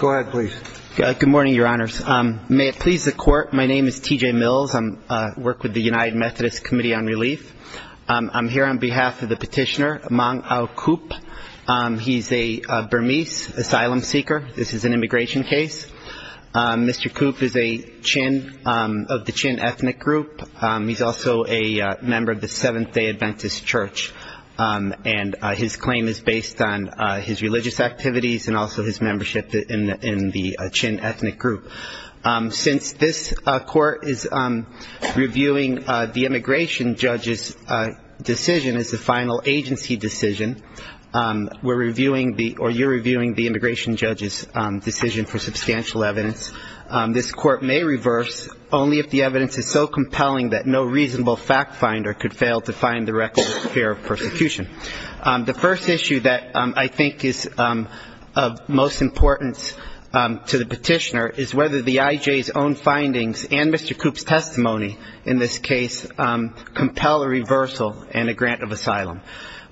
Good morning, Your Honors. May it please the Court, my name is T.J. Mills. I work with the United Methodist Committee on Relief. I'm here on behalf of the petitioner, Mang Au Kup. He's a Burmese asylum seeker. This is an immigration case. Mr. Kup is a Chin, of the Chin ethnic group. He's also a member of the Seventh-day Adventist Church. And his claim is based on his religious activities and also his membership in the United Methodist Church. Since this Court is reviewing the immigration judge's decision as the final agency decision, we're reviewing, or you're reviewing, the immigration judge's decision for substantial evidence. This Court may reverse only if the evidence is so compelling that no reasonable fact finder could fail to find the record of fear of persecution. The first issue that I think is of most importance to the petitioner is whether the I.J.'s own findings and Mr. Kup's testimony in this case compel a reversal and a grant of asylum.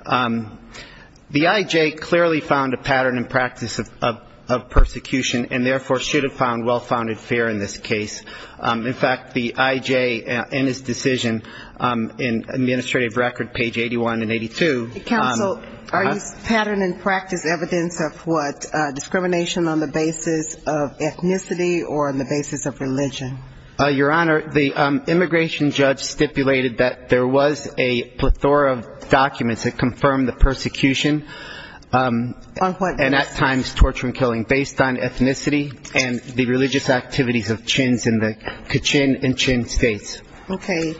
The I.J. clearly found a pattern and practice of persecution and therefore should have found well-founded fear in this case. In fact, the I.J. and his decision in Administrative Record, page 81 and 82. Counsel, are these pattern and practice evidence of what? Discrimination on the basis of ethnicity or on the basis of religion? Your Honor, the immigration judge stipulated that there was a plethora of documents that confirmed the persecution and at times torture and killing based on ethnicity and the religious activities of Chinns in the Kachin and Chinn states. Okay.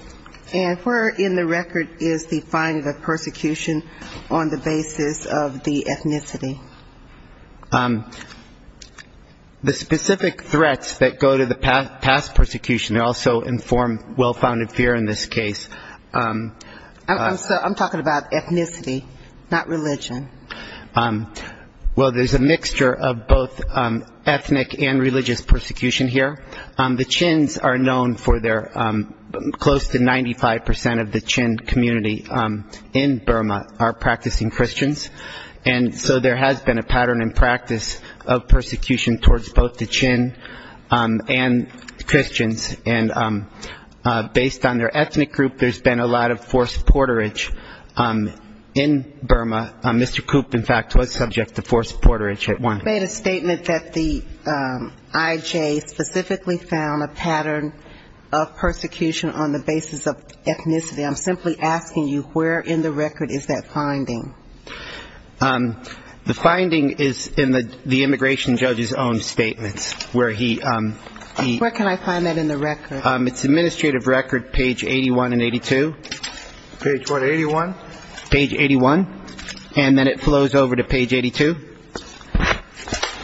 And where in the record is the finding of persecution on the basis of the ethnicity? The specific threats that go to the past persecution also inform well-founded fear in this case. I'm talking about ethnicity, not religion. Well, there's a mixture of both ethnic and religious persecution here. The Chinns are known for their close to 95 percent of the Chinn community in Burma are practicing Christians. And so there has been a pattern and practice of persecution towards both the Chinn and Christians. And based on their ethnic group, there's been a lot of forced porterage in Burma. Mr. Koop, in fact, was subject to forced porterage at one point. You made a statement that the I.J. specifically found a pattern of persecution on the basis of ethnicity. I'm simply asking you, where in the record is that finding? The finding is in the immigration judge's own statements, where he. Where can I find that in the record? It's administrative record, page 81 and 82. Page what, 81? Page 81. And then it flows over to page 82.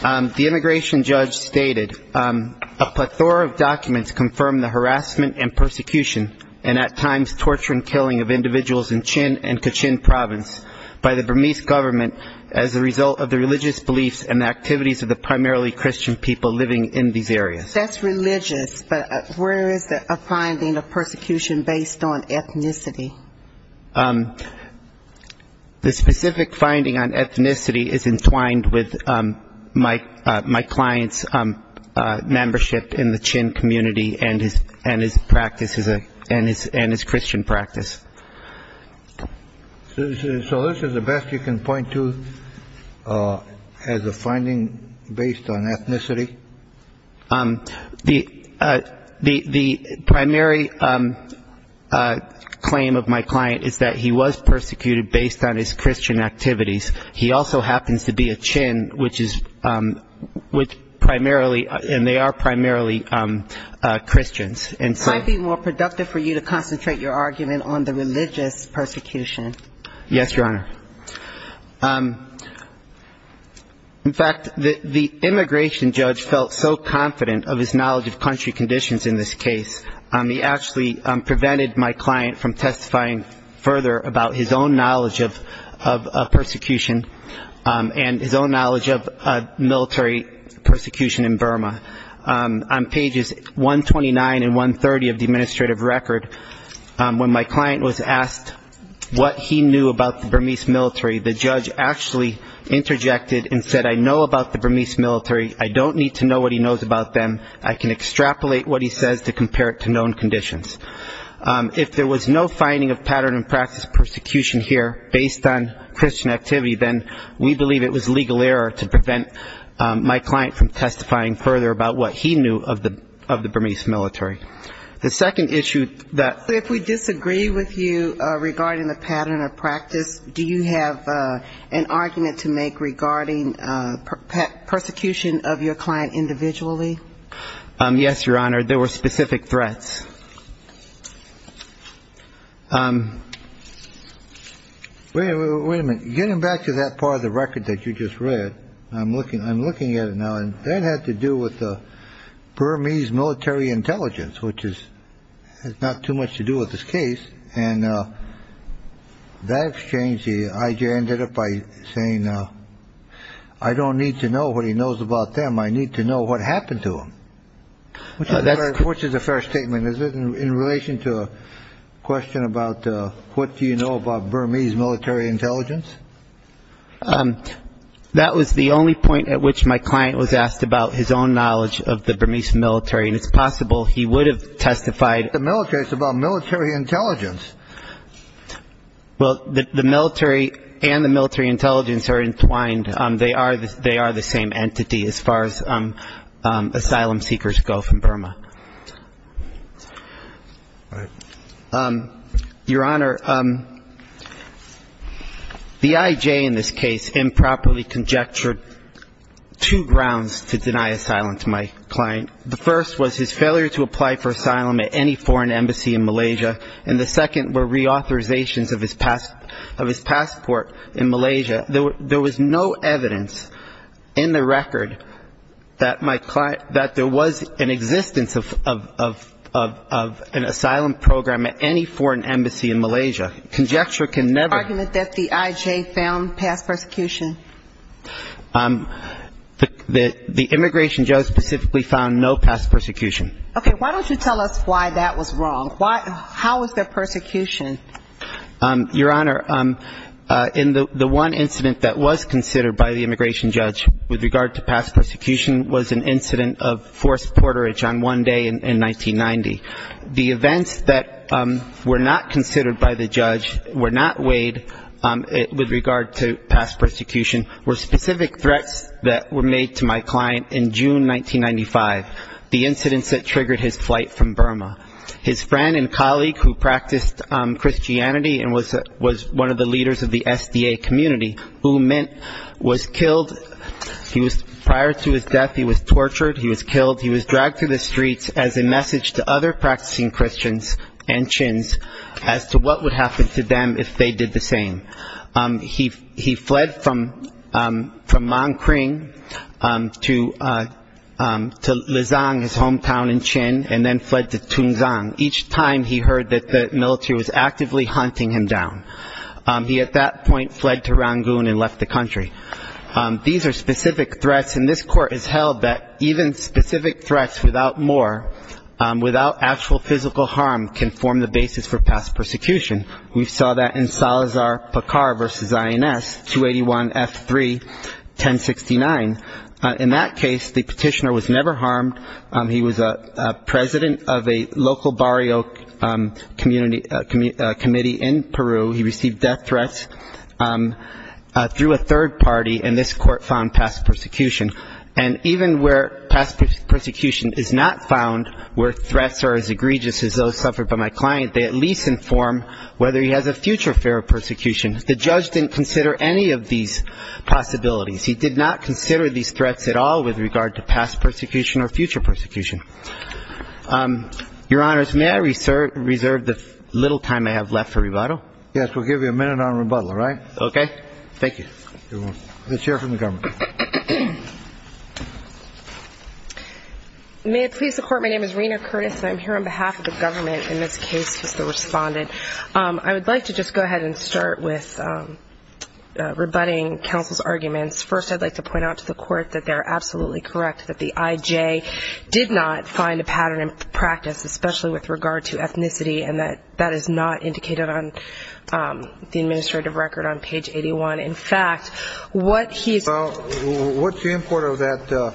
The immigration judge stated, a plethora of documents confirm the harassment and persecution and at times torture and killing of individuals in Chinn and Kachin province. By the Burmese government as a result of the religious beliefs and activities of the primarily Christian people living in these areas. That's religious, but where is a finding of persecution based on ethnicity? The specific finding on ethnicity is entwined with my client's membership in the Chinn community and his practice, and his Christian practice. So this is the best you can point to as a finding based on ethnicity? The primary claim of my client is that he was persecuted based on his Christian activities. He also happens to be a Chinn, which is which primarily and they are primarily Christians. It might be more productive for you to concentrate your argument on the religious persecution. Yes, Your Honor. In fact, the immigration judge felt so confident of his knowledge of country conditions in this case, he actually prevented my client from testifying further about his own knowledge of persecution and his own knowledge of military persecution in Burma. On pages 129 and 130 of the administrative record, when my client was asked what he knew about the Burmese military, the judge actually interjected and said, I know about the Burmese military. I don't need to know what he knows about them. I can extrapolate what he says to compare it to known conditions. If there was no finding of pattern and practice persecution here based on Christian activity, then we believe it was legal error to prevent my client from testifying further about what he knew of the Burmese military. The second issue that we disagree with you regarding the pattern of practice, do you have an argument to make regarding persecution of your client individually? Yes, Your Honor. There were specific threats. Wait a minute. Getting back to that part of the record that you just read, I'm looking at it now, and that had to do with the Burmese military intelligence, which has not too much to do with this case. And that exchange, the I.J. ended up by saying, I don't need to know what he knows about them. I need to know what happened to them. Which is a fair statement, is it, in relation to a question about what do you know about Burmese military intelligence? That was the only point at which my client was asked about his own knowledge of the Burmese military. And it's possible he would have testified. Well, the military and the military intelligence are entwined. They are the same entity as far as asylum seekers go from Burma. Your Honor, the I.J. in this case improperly conjectured two grounds to deny asylum to my client. The first was his failure to apply for asylum at any foreign embassy in Malaysia, and the second were reauthorizations of his passport in Malaysia. There was no evidence in the record that my client, that there was an existence of an asylum program at any foreign embassy in Malaysia. Conjecture can never be. Was there an argument that the I.J. found past persecution? The immigration judge specifically found no past persecution. Okay. Why don't you tell us why that was wrong? How was there persecution? Your Honor, in the one incident that was considered by the immigration judge with regard to past persecution was an incident of forced porterage on one day in 1990. The events that were not considered by the judge, were not weighed with regard to past persecution, were specific threats that were made to my client in June 1995, the incidents that triggered his flight from Burma. His friend and colleague who practiced Christianity and was one of the leaders of the SDA community, who was killed, prior to his death he was tortured, he was killed, he was dragged through the streets as a message to other practicing Christians and Chins as to what would happen to them if they did the same. He fled from Mangkring to Luzang, his hometown in Chin, and then fled to Tunzang. Each time he heard that the military was actively hunting him down. He at that point fled to Rangoon and left the country. These are specific threats, and this Court has held that even specific threats without more, without actual physical harm, can form the basis for past persecution. We saw that in Salazar-Pakar v. INS 281F3-1069. In that case the petitioner was never harmed. He was a president of a local barrio committee in Peru. He received death threats through a third party, and this Court found past persecution. And even where past persecution is not found, where threats are as egregious as those suffered by my client, they at least inform whether he has a future fear of persecution. The judge didn't consider any of these possibilities. He did not consider these threats at all with regard to past persecution or future persecution. Your Honors, may I reserve the little time I have left for rebuttal? Yes, we'll give you a minute on rebuttal, all right? Thank you. May it please the Court, my name is Rena Curtis, and I'm here on behalf of the government in this case as the respondent. I would like to just go ahead and start with rebutting counsel's arguments. First, I'd like to point out to the Court that they're absolutely correct, that the IJ did not find a pattern in practice, especially with regard to ethnicity, and that that is not indicated on the administrative record on page 81. In fact, what he's Well, what's the import of that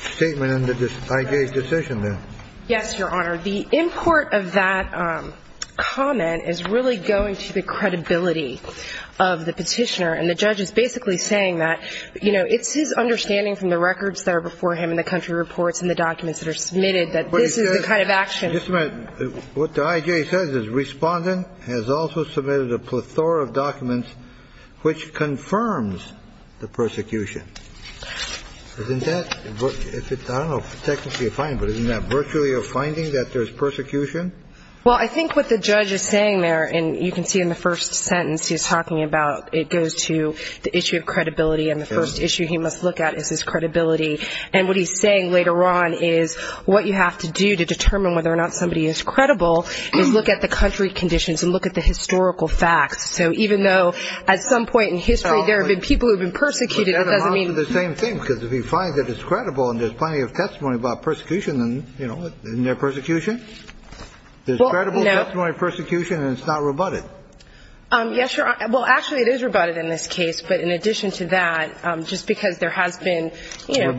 statement in the IJ's decision then? Yes, Your Honor, the import of that comment is really going to the credibility of the petitioner, and the judge is basically saying that, you know, it's his understanding from the records that are before him and the country reports and the documents that are submitted that this is the kind of action Just a minute. What the IJ says is respondent has also submitted a plethora of documents which confirms the persecution. Isn't that, I don't know if technically a finding, but isn't that virtually a finding that there's persecution? Well, I think what the judge is saying there, and you can see in the first sentence he's talking about, it goes to the issue of credibility, and the first issue he must look at is his credibility. And what he's saying later on is what you have to do to determine whether or not somebody is credible is look at the country conditions and look at the historical facts. So even though at some point in history there have been people who have been persecuted, it doesn't mean Well, that amounts to the same thing, because if he finds that it's credible and there's plenty of testimony about persecution, then, you know, isn't there persecution? There's credible testimony of persecution, and it's not rebutted. Yes, Your Honor. Well, actually it is rebutted in this case, but in addition to that, just because there has been persecution in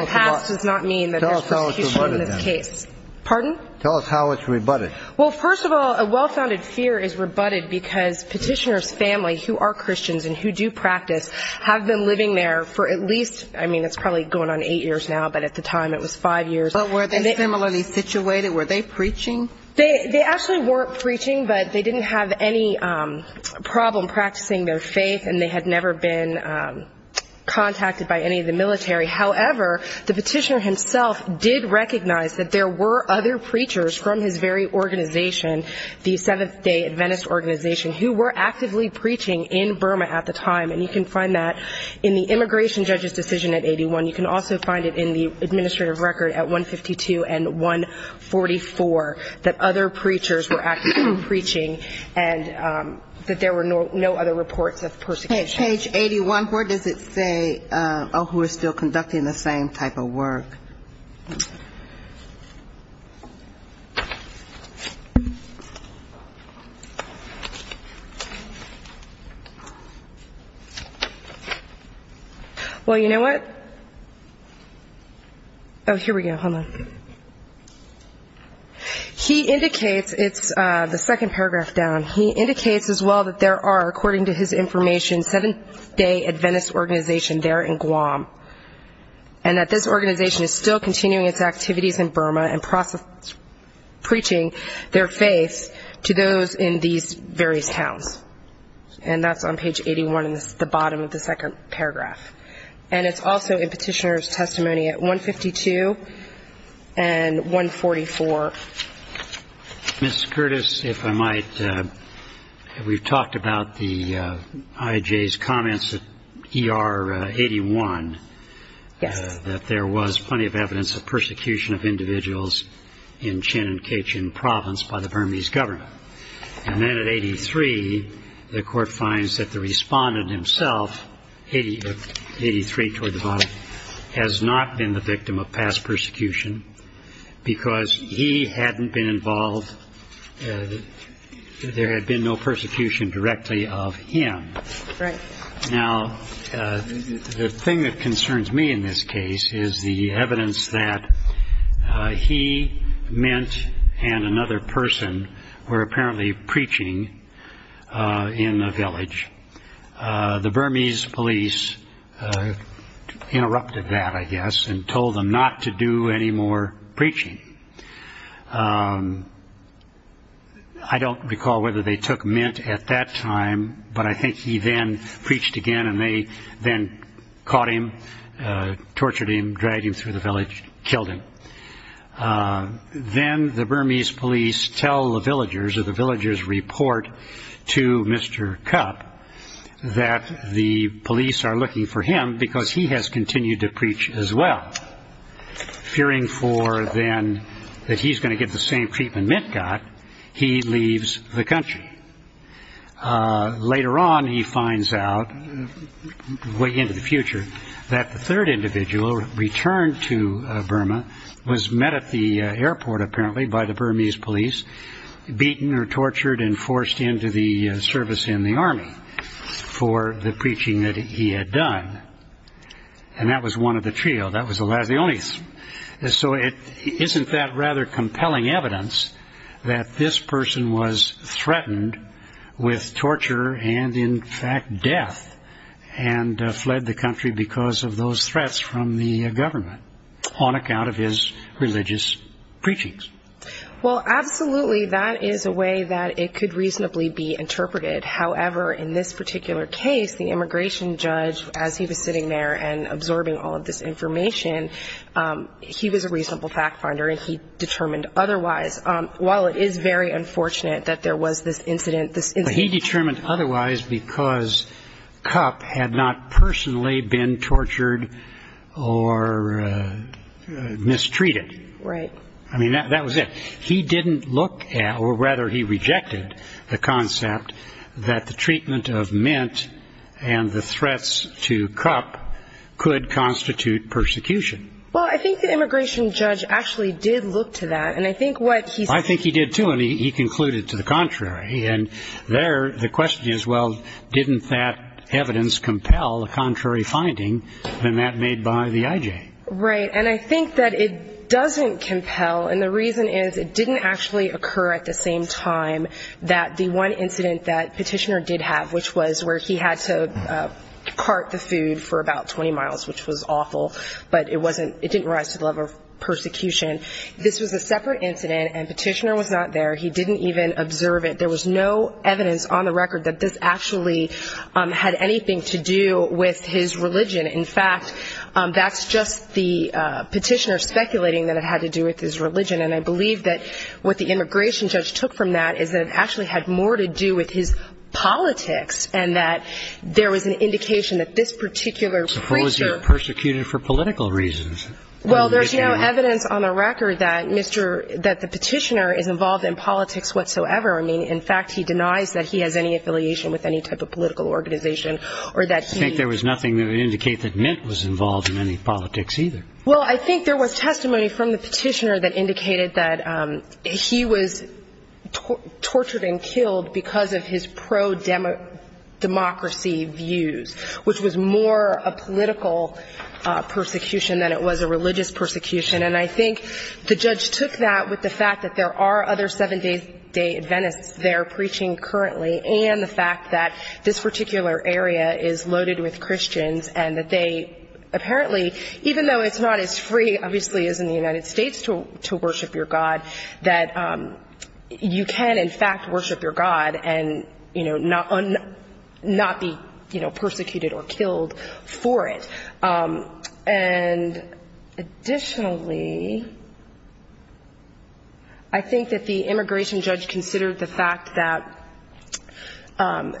the past does not mean that there's persecution in this case. Tell us how it's rebutted. Pardon? Tell us how it's rebutted. Well, first of all, a well-founded fear is rebutted because petitioner's family, who are Christians and who do practice, have been living there for at least, I mean, it's probably going on eight years now, but at the time it was five years. But were they similarly situated? Were they preaching? They actually weren't preaching, but they didn't have any problem practicing their faith, and they had never been contacted by any of the military. However, the petitioner himself did recognize that there were other preachers from his very organization, the Seventh-Day Adventist Organization, who were actively preaching in Burma at the time. And you can find that in the immigration judge's decision at 81. You can also find it in the administrative record at 152 and 144, that other preachers were actively preaching and that there were no other reports of persecution. Page 81, where does it say, oh, who is still conducting the same type of work? Well, you know what? Oh, here we go. Hold on. He indicates, it's the second paragraph down, he indicates as well that there are, according to his information, Seventh-Day Adventist Organization there in Guam, and that this organization is still continuing its activities in Burma and preaching their faith to those in these various towns. And that's on page 81 in the bottom of the second paragraph. And it's also in petitioner's testimony at 152 and 144. Ms. Curtis, if I might, we've talked about the IJ's comments at ER 81. Yes. That there was plenty of evidence of persecution of individuals in Chinonkechin province by the Burmese government. And then at 83, the court finds that the respondent himself, 83 toward the bottom, has not been the victim of past persecution because he hadn't been involved, there had been no persecution directly of him. Right. Now, the thing that concerns me in this case is the evidence that he meant and another person were apparently preaching in the village. The Burmese police interrupted that, I guess, and told them not to do any more preaching. I don't recall whether they took mint at that time, but I think he then preached again and they then caught him, tortured him, dragged him through the village, killed him. Then the Burmese police tell the villagers or the villagers report to Mr. Cup that the police are looking for him because he has continued to preach as well. Fearing for then that he's going to get the same treatment mint got, he leaves the country. Later on, he finds out, way into the future, that the third individual returned to Burma, was met at the airport apparently by the Burmese police, beaten or tortured and forced into the service in the army for the preaching that he had done. And that was one of the trio, that was the only. So isn't that rather compelling evidence that this person was threatened with torture and in fact death and fled the country because of those threats from the government on account of his religious preachings? Well, absolutely, that is a way that it could reasonably be interpreted. However, in this particular case, the immigration judge, as he was sitting there and absorbing all of this information, he was a reasonable fact finder and he determined otherwise. While it is very unfortunate that there was this incident, this incident. But he determined otherwise because Cup had not personally been tortured or mistreated. Right. I mean, that was it. He didn't look at or rather he rejected the concept that the treatment of Mint and the threats to Cup could constitute persecution. Well, I think the immigration judge actually did look to that and I think what he said. I think he did too and he concluded to the contrary. And there the question is, well, didn't that evidence compel a contrary finding than that made by the IJ? Right. And I think that it doesn't compel. And the reason is it didn't actually occur at the same time that the one incident that Petitioner did have, which was where he had to part the food for about 20 miles, which was awful, but it didn't rise to the level of persecution. This was a separate incident and Petitioner was not there. He didn't even observe it. There was no evidence on the record that this actually had anything to do with his religion. In fact, that's just the Petitioner speculating that it had to do with his religion. And I believe that what the immigration judge took from that is that it actually had more to do with his politics and that there was an indication that this particular preacher. Suppose he was persecuted for political reasons. Well, there's no evidence on the record that the Petitioner is involved in politics whatsoever. I mean, in fact, he denies that he has any affiliation with any type of political organization or that he. I think there was nothing that would indicate that Mint was involved in any politics either. Well, I think there was testimony from the Petitioner that indicated that he was tortured and killed because of his pro-democracy views, which was more a political persecution than it was a religious persecution. And I think the judge took that with the fact that there are other Seven-Day Adventists there preaching currently and the fact that this particular area is loaded with Christians and that they apparently, even though it's not as free, obviously, as in the United States to worship your God, that you can, in fact, worship your God and, you know, not be, you know, persecuted or killed for it. And additionally, I think that the immigration judge considered the fact that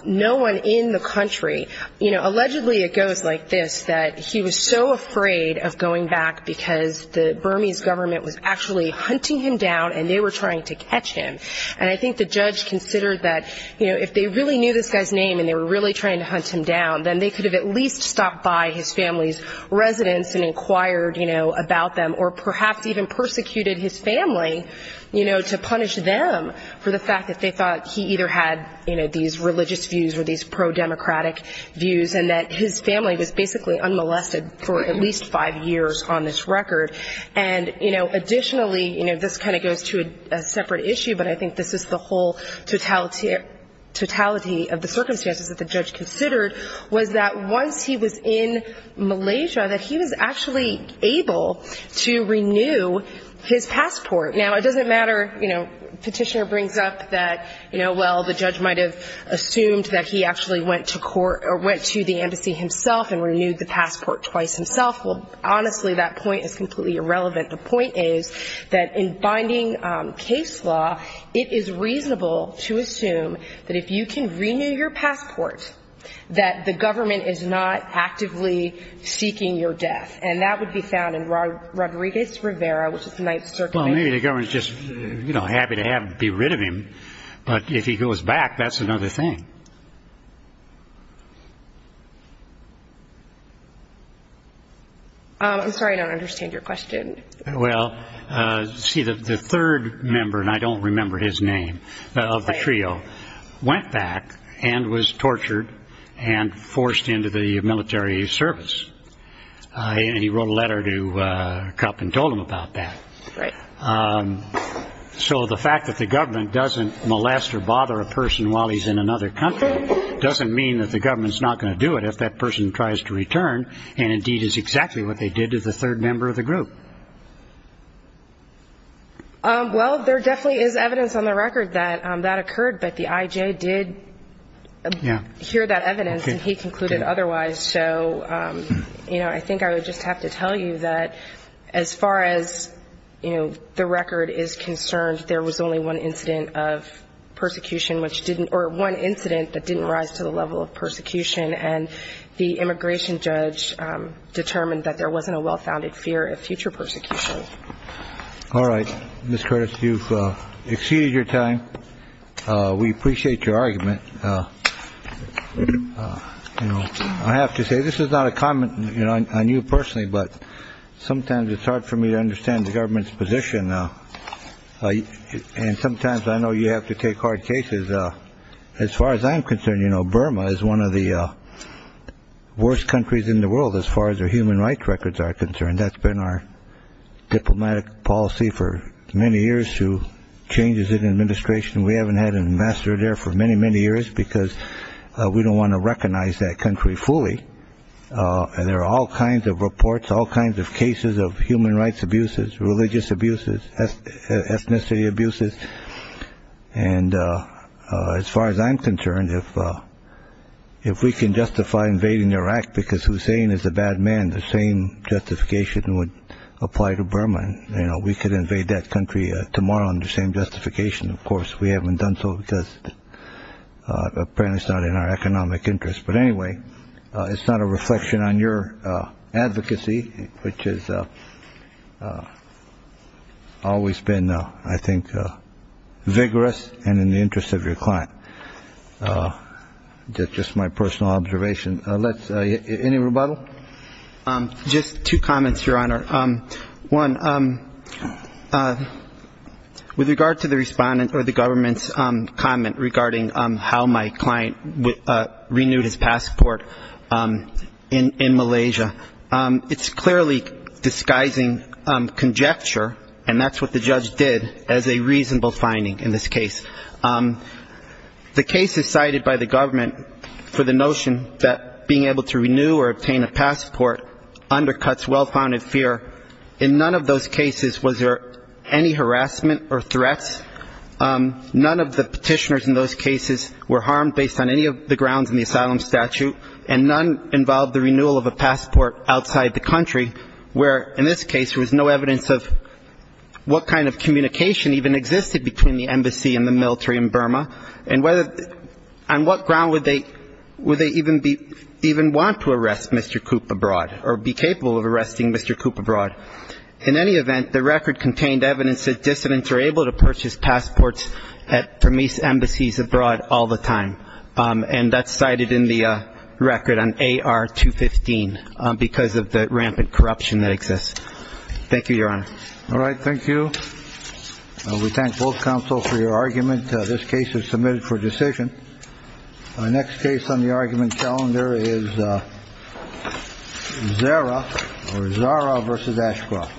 no one in the country, you know, allegedly it goes like this, that he was so afraid of going back because the Burmese government was actually hunting him down and they were trying to catch him. And I think the judge considered that, you know, if they really knew this guy's name and they were really trying to hunt him down, then they could have at least stopped by his family's residence and inquired, you know, about them or perhaps even persecuted his family, you know, to punish them for the fact that they thought he either had, you know, these religious views or these pro-democratic views and that his family was basically unmolested for at least five years on this record. And, you know, additionally, you know, this kind of goes to a separate issue, but I think this is the whole totality of the circumstances that the judge considered, was that once he was in Malaysia that he was actually able to renew his passport. Now, it doesn't matter, you know, petitioner brings up that, you know, well, the judge might have assumed that he actually went to court or went to the embassy himself and renewed the passport twice himself. Well, honestly, that point is completely irrelevant. The point is that in binding case law, it is reasonable to assume that if you can renew your passport, that the government is not actively seeking your death. And that would be found in Rodriguez-Rivera, which is the Ninth Circuit. Well, maybe the government is just, you know, happy to be rid of him, but if he goes back, that's another thing. I'm sorry, I don't understand your question. Well, see, the third member, and I don't remember his name, of the trio, went back and was tortured and forced into the military service. And he wrote a letter to Kup and told him about that. So the fact that the government doesn't molest or bother a person while he's in another country doesn't mean that the government's not going to do it if that person tries to return and indeed is exactly what they did to the third member of the group. Well, there definitely is evidence on the record that that occurred, but the I.J. did hear that evidence and he concluded otherwise. And so, you know, I think I would just have to tell you that as far as, you know, the record is concerned, there was only one incident of persecution which didn't or one incident that didn't rise to the level of persecution. And the immigration judge determined that there wasn't a well-founded fear of future persecution. All right. Ms. Curtis, you've exceeded your time. We appreciate your argument. You know, I have to say this is not a comment on you personally, but sometimes it's hard for me to understand the government's position. And sometimes I know you have to take hard cases. As far as I'm concerned, you know, Burma is one of the worst countries in the world as far as their human rights records are concerned. That's been our diplomatic policy for many years to changes in administration. We haven't had an ambassador there for many, many years because we don't want to recognize that country fully. And there are all kinds of reports, all kinds of cases of human rights abuses, religious abuses, ethnicity abuses. And as far as I'm concerned, if we can justify invading Iraq because Hussein is a bad man, the same justification would apply to Burma. You know, we could invade that country tomorrow under the same justification. Of course, we haven't done so because apparently it's not in our economic interest. But anyway, it's not a reflection on your advocacy, which is always been, I think, vigorous and in the interest of your client. Just my personal observation. Let's say any rebuttal. Just two comments, Your Honor. One, with regard to the respondent or the government's comment regarding how my client renewed his passport in Malaysia, it's clearly disguising conjecture, and that's what the judge did, as a reasonable finding in this case. The case is cited by the government for the notion that being able to renew or obtain a passport undercuts well-founded fear. In none of those cases was there any harassment or threats. None of the petitioners in those cases were harmed based on any of the grounds in the asylum statute, and none involved the renewal of a passport outside the country where, in this case, there was no evidence of what kind of communication even existed between the embassy and the military in Burma, and on what ground would they even want to arrest Mr. Coop abroad or be capable of arresting Mr. Coop abroad. In any event, the record contained evidence that dissidents are able to purchase passports at Burmese embassies abroad all the time, and that's cited in the record on AR-215 because of the rampant corruption that exists. Thank you, Your Honor. All right. Thank you. We thank both counsel for your argument. This case is submitted for decision. My next case on the argument calendar is Zara or Zara versus Ashcroft.